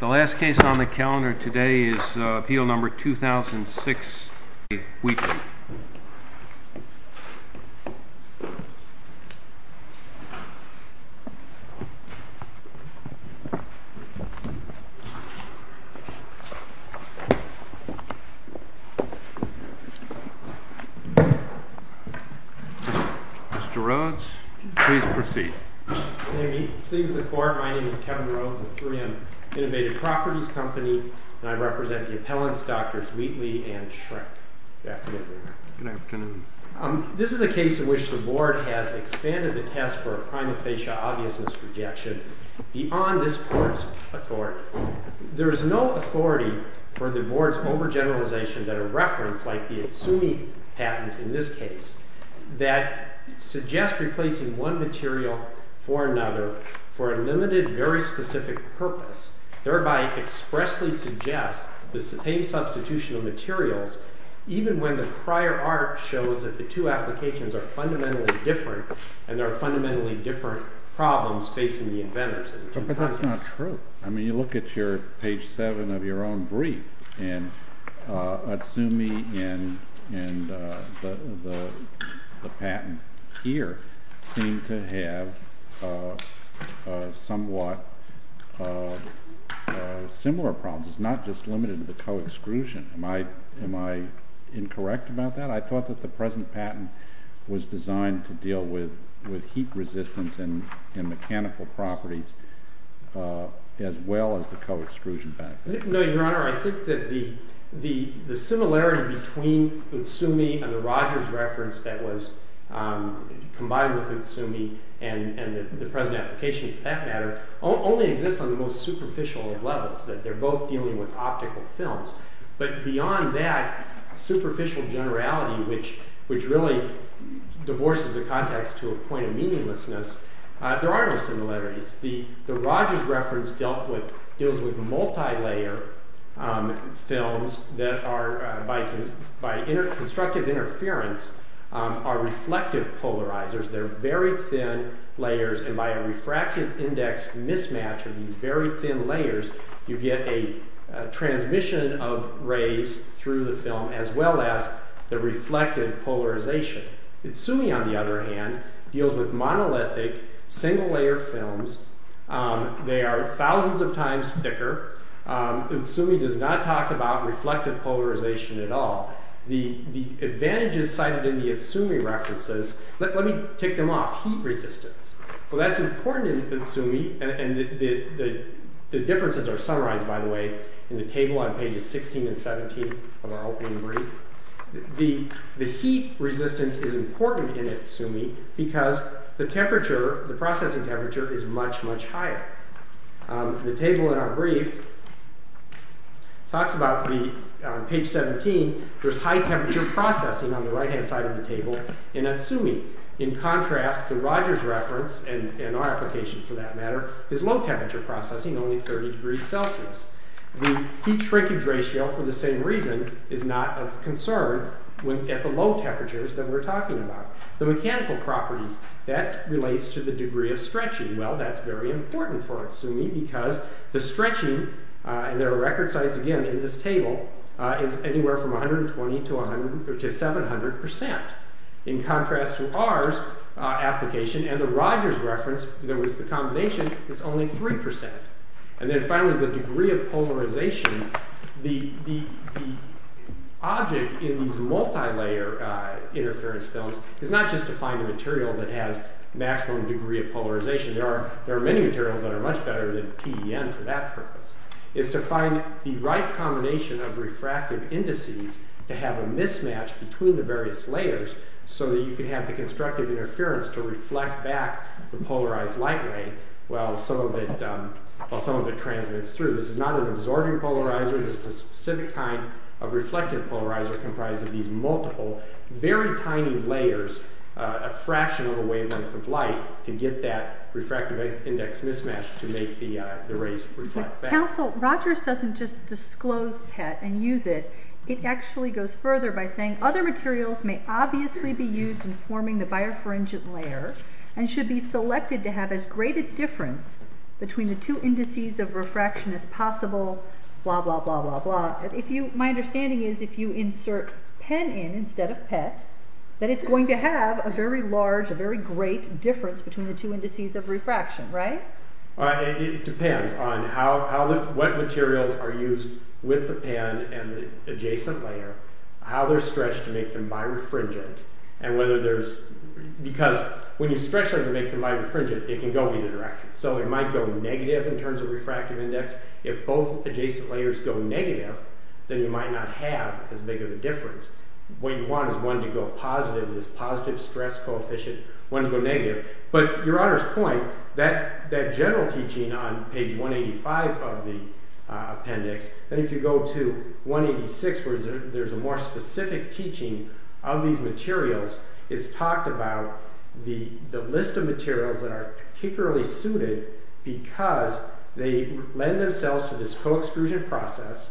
The last case on the calendar today is Appeal No. 2006A, Re Wheatley. Mr. Rhodes, please proceed. May we please the Court? My name is Kevin Rhodes of 3M Innovative Properties Company, and I represent the appellants Drs. Wheatley and Schreck. Good afternoon. Good afternoon. This is a case in which the Board has expanded the test for a prima facie obviousness rejection beyond this Court's authority. There is no authority for the Board's overgeneralization that a reference like the Izumi patents in this case that suggests replacing one material for another for a limited, very specific purpose, thereby expressly suggests the same substitution of materials even when the prior art shows that the two applications are fundamentally different and there are fundamentally different problems facing the inventors. But that's not true. I mean, you look at your page 7 of your own brief, and Izumi and the patent here seem to have somewhat similar problems. It's not just limited to the co-exclusion. Am I incorrect about that? I thought that the present patent was designed to deal with heat resistance and mechanical properties as well as the co-exclusion benefit. No, Your Honor. I think that the similarity between Izumi and the Rogers reference that was combined with Izumi and the present application, for that matter, only exists on the most superficial of levels, that they're both dealing with optical films. But beyond that superficial generality, which really divorces the context to a point of meaninglessness, there are no similarities. The Rogers reference deals with multi-layer films that are, by constructive interference, are reflective polarizers. They're very thin layers, and by a refractive index mismatch of these very thin layers, you get a transmission of rays through the film as well as the reflective polarization. Izumi, on the other hand, deals with monolithic, single-layer films. They are thousands of times thicker. Izumi does not talk about reflective polarization at all. The advantages cited in the Izumi references, let me tick them off. Heat resistance. Well, that's important in Izumi, and the differences are summarized, by the way, in the table on pages 16 and 17 of our opening brief. The heat resistance is important in Izumi because the processing temperature is much, much higher. The table in our brief talks about, on page 17, there's high temperature processing on the right-hand side of the table in Izumi. In contrast, the Rogers reference, and our application for that matter, is low temperature processing, only 30 degrees Celsius. The heat shrinkage ratio, for the same reason, is not of concern at the low temperatures that we're talking about. The mechanical properties. That relates to the degree of stretching. Well, that's very important for Izumi because the stretching, and there are record sites, again, in this table, is anywhere from 120 to 700 percent. In contrast to our application, and the Rogers reference, that was the combination, is only 3 percent. And then finally, the degree of polarization. The object in these multi-layer interference films is not just to find a material that has maximum degree of polarization. There are many materials that are much better than PDN for that purpose. It's to find the right combination of refractive indices to have a mismatch between the various layers so that you can have the constructive interference to reflect back the polarized light ray while some of it transmits through. This is not an absorbing polarizer. This is a specific kind of reflective polarizer comprised of these multiple, very tiny layers, a fraction of a wavelength of light, to get that refractive index mismatch to make the rays reflect back. Counsel, Rogers doesn't just disclose PET and use it. It actually goes further by saying other materials may obviously be used in forming the birefringent layer and should be selected to have as great a difference between the two indices of refraction as possible, blah blah blah blah blah. My understanding is if you insert PEN in instead of PET, that it's going to have a very large, a very great difference between the two indices of refraction, right? It depends on what materials are used with the PEN and the adjacent layer, how they're stretched to make them birefringent, and whether there's, because when you stretch them to make them birefringent, it can go either direction. So it might go negative in terms of refractive index. If both adjacent layers go negative, then you might not have as big of a difference. What you want is one to go positive, this positive stress coefficient, one to go negative. But Your Honor's point, that general teaching on page 185 of the appendix, and if you go to 186 where there's a more specific teaching of these materials, it's talked about the list of materials that are particularly suited because they lend themselves to this co-extrusion process,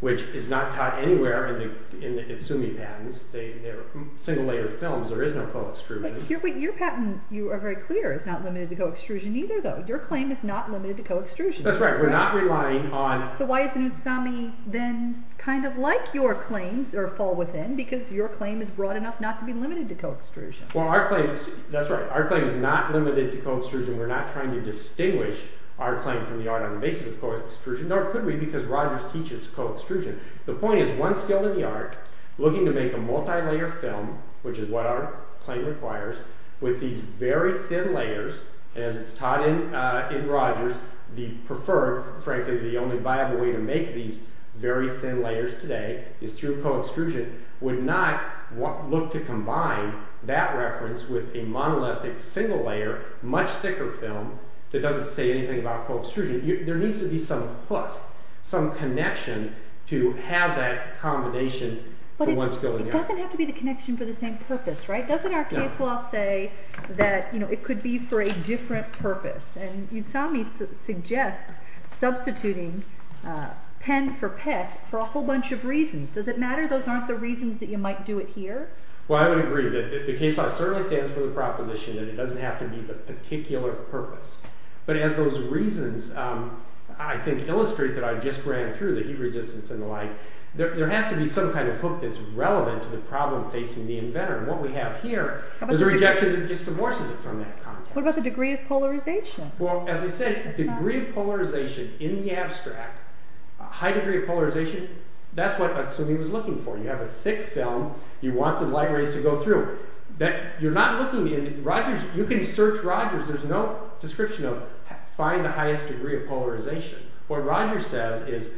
which is not taught anywhere in the Izumi patents. They're single-layer films. There is no co-extrusion. But your patent, you are very clear, is not limited to co-extrusion either, though. Your claim is not limited to co-extrusion. That's right. We're not relying on... So why isn't Izumi then kind of like your claims, or fall within, because your claim is broad enough not to be limited to co-extrusion? That's right. Our claim is not limited to co-extrusion. We're not trying to distinguish our claim from the art on the basis of co-extrusion, nor could we because Rogers teaches co-extrusion. The point is, one skilled in the art, looking to make a multi-layer film, which is what our claim requires, with these very thin layers, as it's taught in Rogers, the preferred, frankly the only viable way to make these very thin layers today, is through co-extrusion, would not look to combine that reference with a monolithic single-layer, much thicker film, that doesn't say anything about co-extrusion. There needs to be some hook, some connection to have that combination for one skilled in the art. But it doesn't have to be the connection for the same purpose, right? Doesn't our case law say that it could be for a different purpose? And Izumi suggests substituting pen for pet for a whole bunch of reasons. Does it matter? Those aren't the reasons that you might do it here? Well, I would agree. The case law certainly stands for the proposition that it doesn't have to be the particular purpose. But as those reasons, I think, illustrate that I just ran through the heat resistance and the like, there has to be some kind of hook that's relevant to the problem facing the inventor. What we have here is a rejection that just divorces it from that context. What about the degree of polarization? Well, as I said, degree of polarization in the abstract, high degree of polarization, that's what Izumi was looking for. You have a thick film, you want the light rays to go through. You're not looking in Rogers, you can search Rogers, there's no description of find the highest degree of polarization. What Rogers says is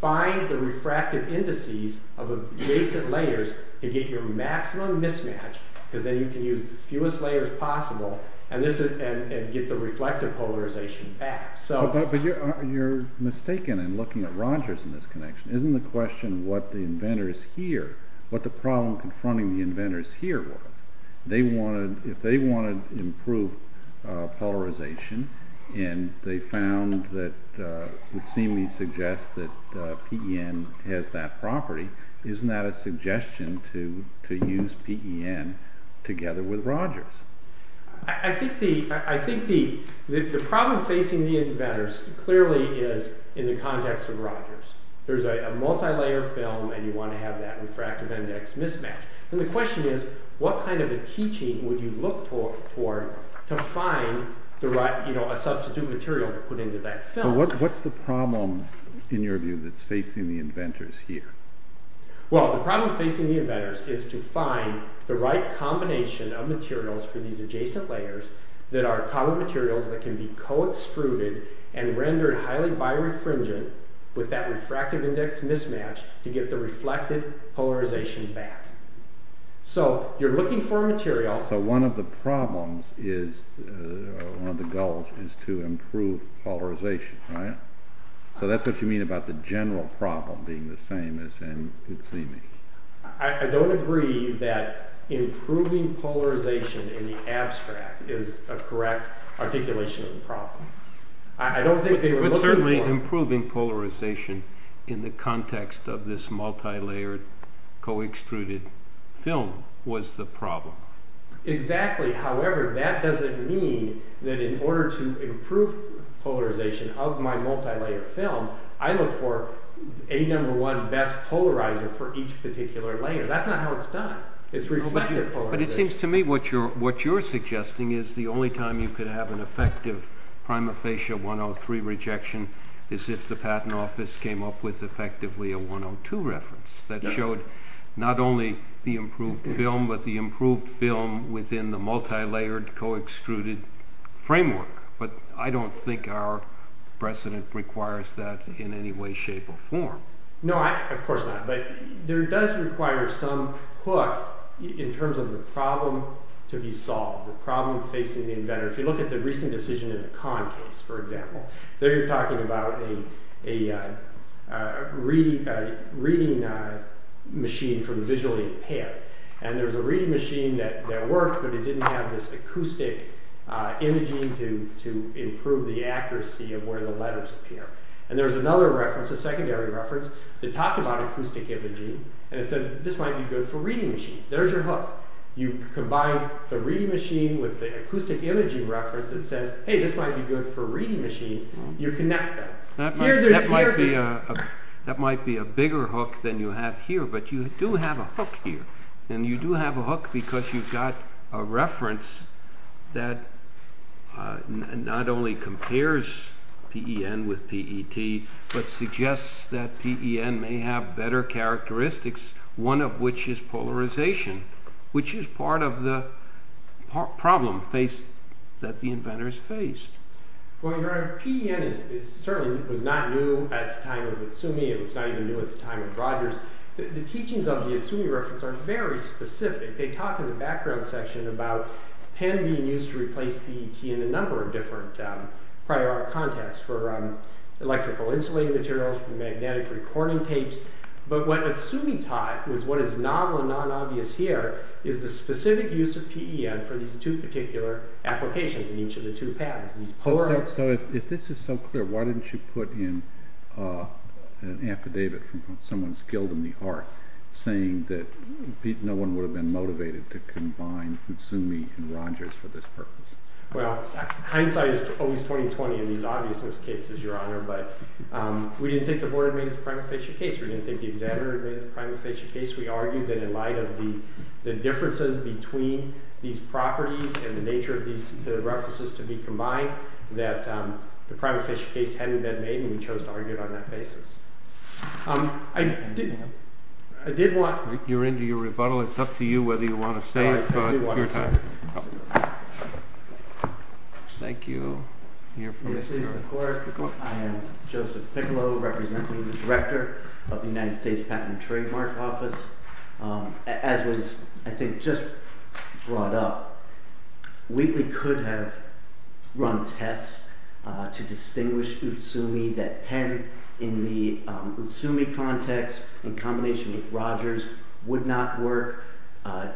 find the refractive indices of adjacent layers to get your maximum mismatch, because then you can use the fewest layers possible and get the reflective polarization back. But you're mistaken in looking at Rogers in this connection. Isn't the question what the problem confronting the inventors here was? If they wanted to improve polarization and they found that Izumi suggests that PEN has that property, isn't that a suggestion to use PEN together with Rogers? I think the problem facing the inventors clearly is in the context of Rogers. There's a multi-layer film and you want to have that refractive index mismatch. The question is what kind of a teaching would you look for to find a substitute material to put into that film? What's the problem in your view that's facing the inventors here? Well, the problem facing the inventors is to find the right combination of materials for these adjacent layers that are common materials that can be co-extruded and rendered highly birefringent with that refractive index mismatch to get the reflective polarization back. So you're looking for a material... So one of the problems is, one of the goals is to improve polarization, right? So that's what you mean about the general problem being the same as in Izumi. I don't agree that improving polarization in the abstract is a correct articulation of the problem. But certainly improving polarization in the context of this multi-layered co-extruded film was the problem. Exactly. However, that doesn't mean that in order to improve polarization of my multi-layer film, I look for a number one best polarizer for each particular layer. That's not how it's done. It's refractive polarization. But it seems to me what you're suggesting is the only time you could have an effective prima facie 103 rejection is if the patent office came up with effectively a 102 reference that showed not only the improved film, but the improved film within the multi-layered co-extruded framework. But I don't think our precedent requires that in any way, shape, or form. No, of course not. But there does require some hook in terms of the problem to be solved, the problem facing the inventor. If you look at the recent decision in the Kahn case, for example, there you're talking about a reading machine from visually impaired. And there's a reading machine that worked, but it didn't have this acoustic imaging to improve the accuracy of where the letters appear. And there's another reference, a secondary reference, that talked about acoustic imaging and it said this might be good for reading machines. There's your hook. You combine the reading machine with the acoustic imaging reference that says, hey, this might be good for reading machines. You connect them. That might be a bigger hook than you have here, but you do have a hook here. And you do have a hook because you've got a reference that not only compares PEN with PET, but suggests that PEN may have better characteristics, one of which is polarization, which is part of the problem that the inventors faced. Well, your honor, PEN certainly was not new at the time of Izumi. It was not even new at the time of Rogers. The teachings of the Izumi reference are very specific. They talk in the background section about PEN being used to replace PET in a number of different prior art contexts for electrical insulating materials, for magnetic recording tapes. But what Izumi taught was what is novel and non-obvious here is the specific use of PEN for these two particular applications in each of the two patents. So if this is so clear, why didn't you put in an affidavit from someone skilled in the art saying that no one would have been motivated to combine Izumi and Rogers for this purpose? Well, hindsight is always 20-20 in these obviousness cases, your honor, but we didn't think the board had made its prima facie case. We didn't think the examiner had made its prima facie case. We argued that in light of the differences between these properties and the nature of the references to be combined, that the prima facie case hadn't been made, and we chose to argue it on that basis. I did want— You're into your rebuttal. It's up to you whether you want to save your time. I do want to save it. Thank you. I am Joseph Piccolo, representing the director of the United States Patent and Trademark Office. As was, I think, just brought up, Wheatley could have run tests to distinguish Izumi that had, in the Izumi context, in combination with Rogers, would not work,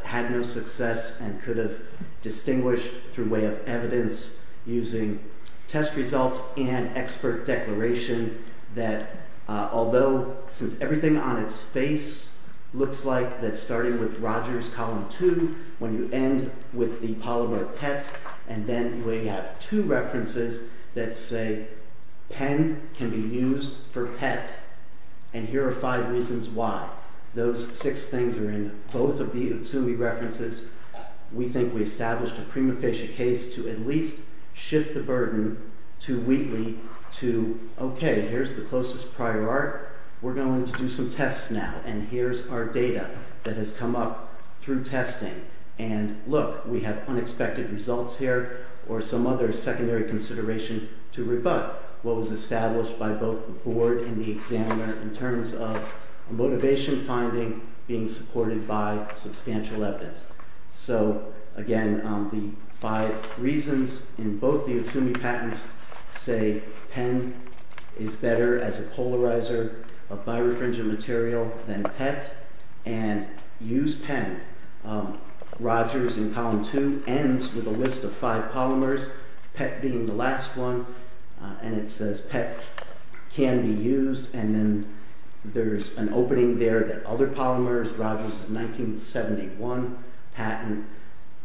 had no success, and could have distinguished through way of evidence using test results and expert declaration that although, since everything on its face looks like that's starting with Rogers, column two, when you end with the polymer PET, and then we have two references that say pen can be used for PET, and here are five reasons why. Those six things are in both of the Izumi references. We think we established a prima facie case to at least shift the burden to Wheatley to, okay, here's the closest prior art. We're going to do some tests now, and here's our data that has come up through testing, and look, we have unexpected results here or some other secondary consideration to rebut what was established by both the board and the examiner in terms of a motivation finding being supported by substantial evidence. So, again, the five reasons in both the Izumi patents say pen is better as a polarizer of birefringent material than PET and use pen. Rogers in column two ends with a list of five polymers, PET being the last one, and it says PET can be used, and then there's an opening there that other polymers, Rogers' 1971 patent,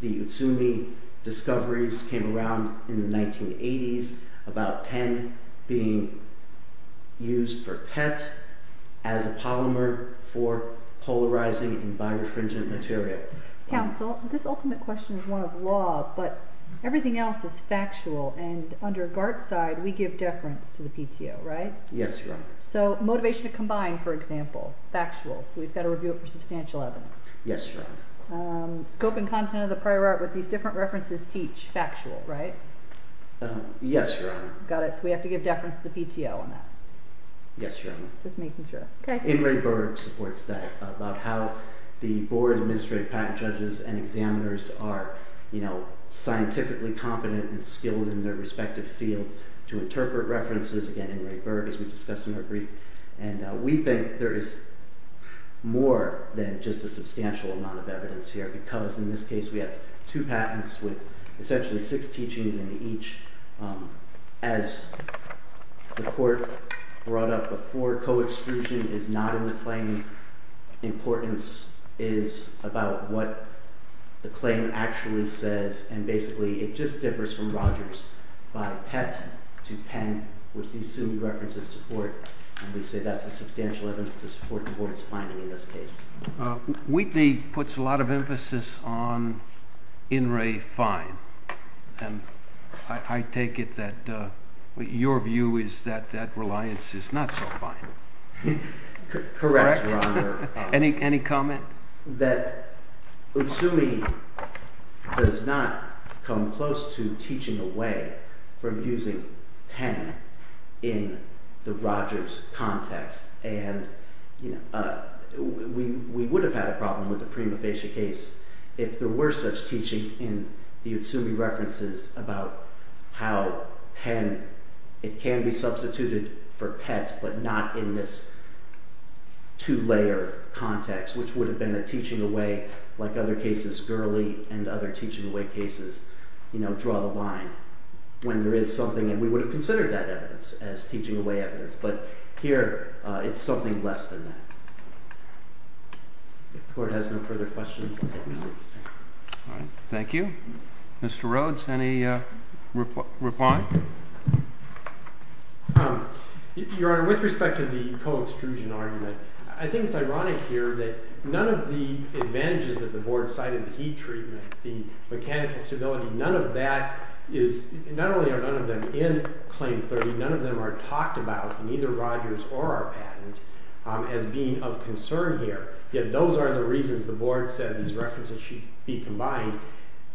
the Izumi discoveries came around in the 1980s about pen being used for PET as a polymer for polarizing in birefringent material. Counsel, this ultimate question is one of law, but everything else is factual, and under Gart's side, we give deference to the PTO, right? Yes, Your Honor. So motivation to combine, for example, factual. So we've got to review it for substantial evidence. Yes, Your Honor. Scope and content of the prior art with these different references teach factual, right? Yes, Your Honor. Got it. So we have to give deference to the PTO on that. Yes, Your Honor. Just making sure. Okay. Inray Berg supports that about how the board of administrative patent judges and examiners are scientifically competent and skilled in their respective fields to interpret references, again, Inray Berg, as we discussed in our brief, and we think there is more than just a substantial amount of evidence here because in this case we have two patents with essentially six teachings in each. As the court brought up before, co-extrusion is not in the claim. Importance is about what the claim actually says, and basically it just differs from Rogers by pet to pen, which the Utsumi references support, and we say that's a substantial evidence to support the board's finding in this case. Wheatley puts a lot of emphasis on Inray fine, and I take it that your view is that that reliance is not so fine. Correct, Your Honor. Any comment? That Utsumi does not come close to teaching away from using pen in the Rogers context, and we would have had a problem with the prima facie case if there were such teachings in the Utsumi references about how pen, it can be substituted for pet but not in this two-layer context, which would have been a teaching away, like other cases, Gurley and other teaching away cases, you know, draw the line when there is something, and we would have considered that evidence as teaching away evidence, but here it's something less than that. If the court has no further questions, I'll take them. Thank you. Mr. Rhodes, any reply? Your Honor, with respect to the co-extrusion argument, I think it's ironic here that none of the advantages that the Board cited, the heat treatment, the mechanical stability, none of that is, not only are none of them in Claim 30, none of them are talked about in either Rogers or our patent as being of concern here, yet those are the reasons the Board said these references should be combined,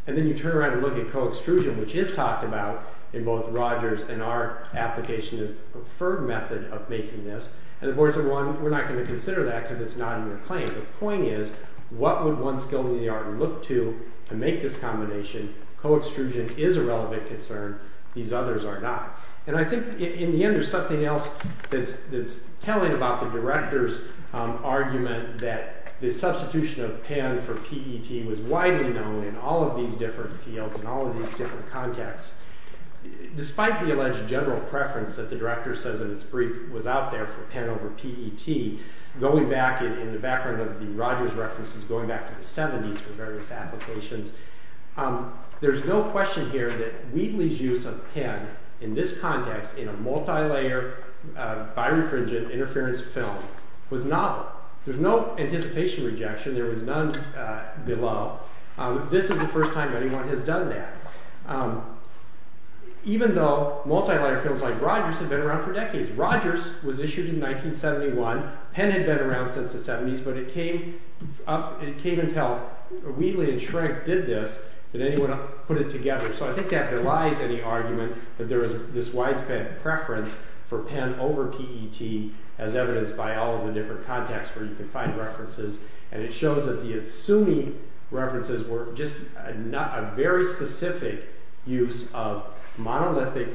and then you turn around and look at co-extrusion, which is talked about in both Rogers and our application as the preferred method of making this, and the Board said, well, we're not going to consider that because it's not in your claim. The point is, what would one skill in the art look to to make this combination? Co-extrusion is a relevant concern. These others are not. And I think in the end there's something else that's telling about the Director's argument that the substitution of Penn for PET was widely known in all of these different fields and all of these different contexts, despite the alleged general preference that the Director says in its brief was out there for Penn over PET, going back in the background of the Rogers references, going back to the 70s for various applications, there's no question here that Wheatley's use of Penn in this context, in a multi-layer birefringent interference film, was novel. There's no anticipation rejection. There was none below. This is the first time anyone has done that. Even though multi-layer films like Rogers have been around for decades. Rogers was issued in 1971. Penn had been around since the 70s, but it came until Wheatley and Schrenk did this that anyone put it together. So I think that relies on the argument that there is this widespread preference for Penn over PET as evidenced by all of the different contexts where you can find references, and it shows that the Izumi references were just a very specific use of monolithic,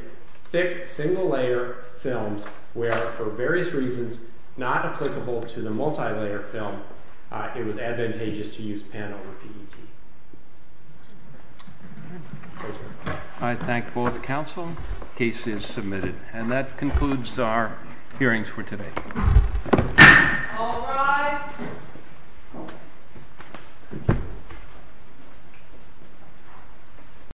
thick, single-layer films, where for various reasons not applicable to the multi-layer film, it was advantageous to use Penn over PET. I thank both the Council. The case is submitted. And that concludes our hearings for today. All rise.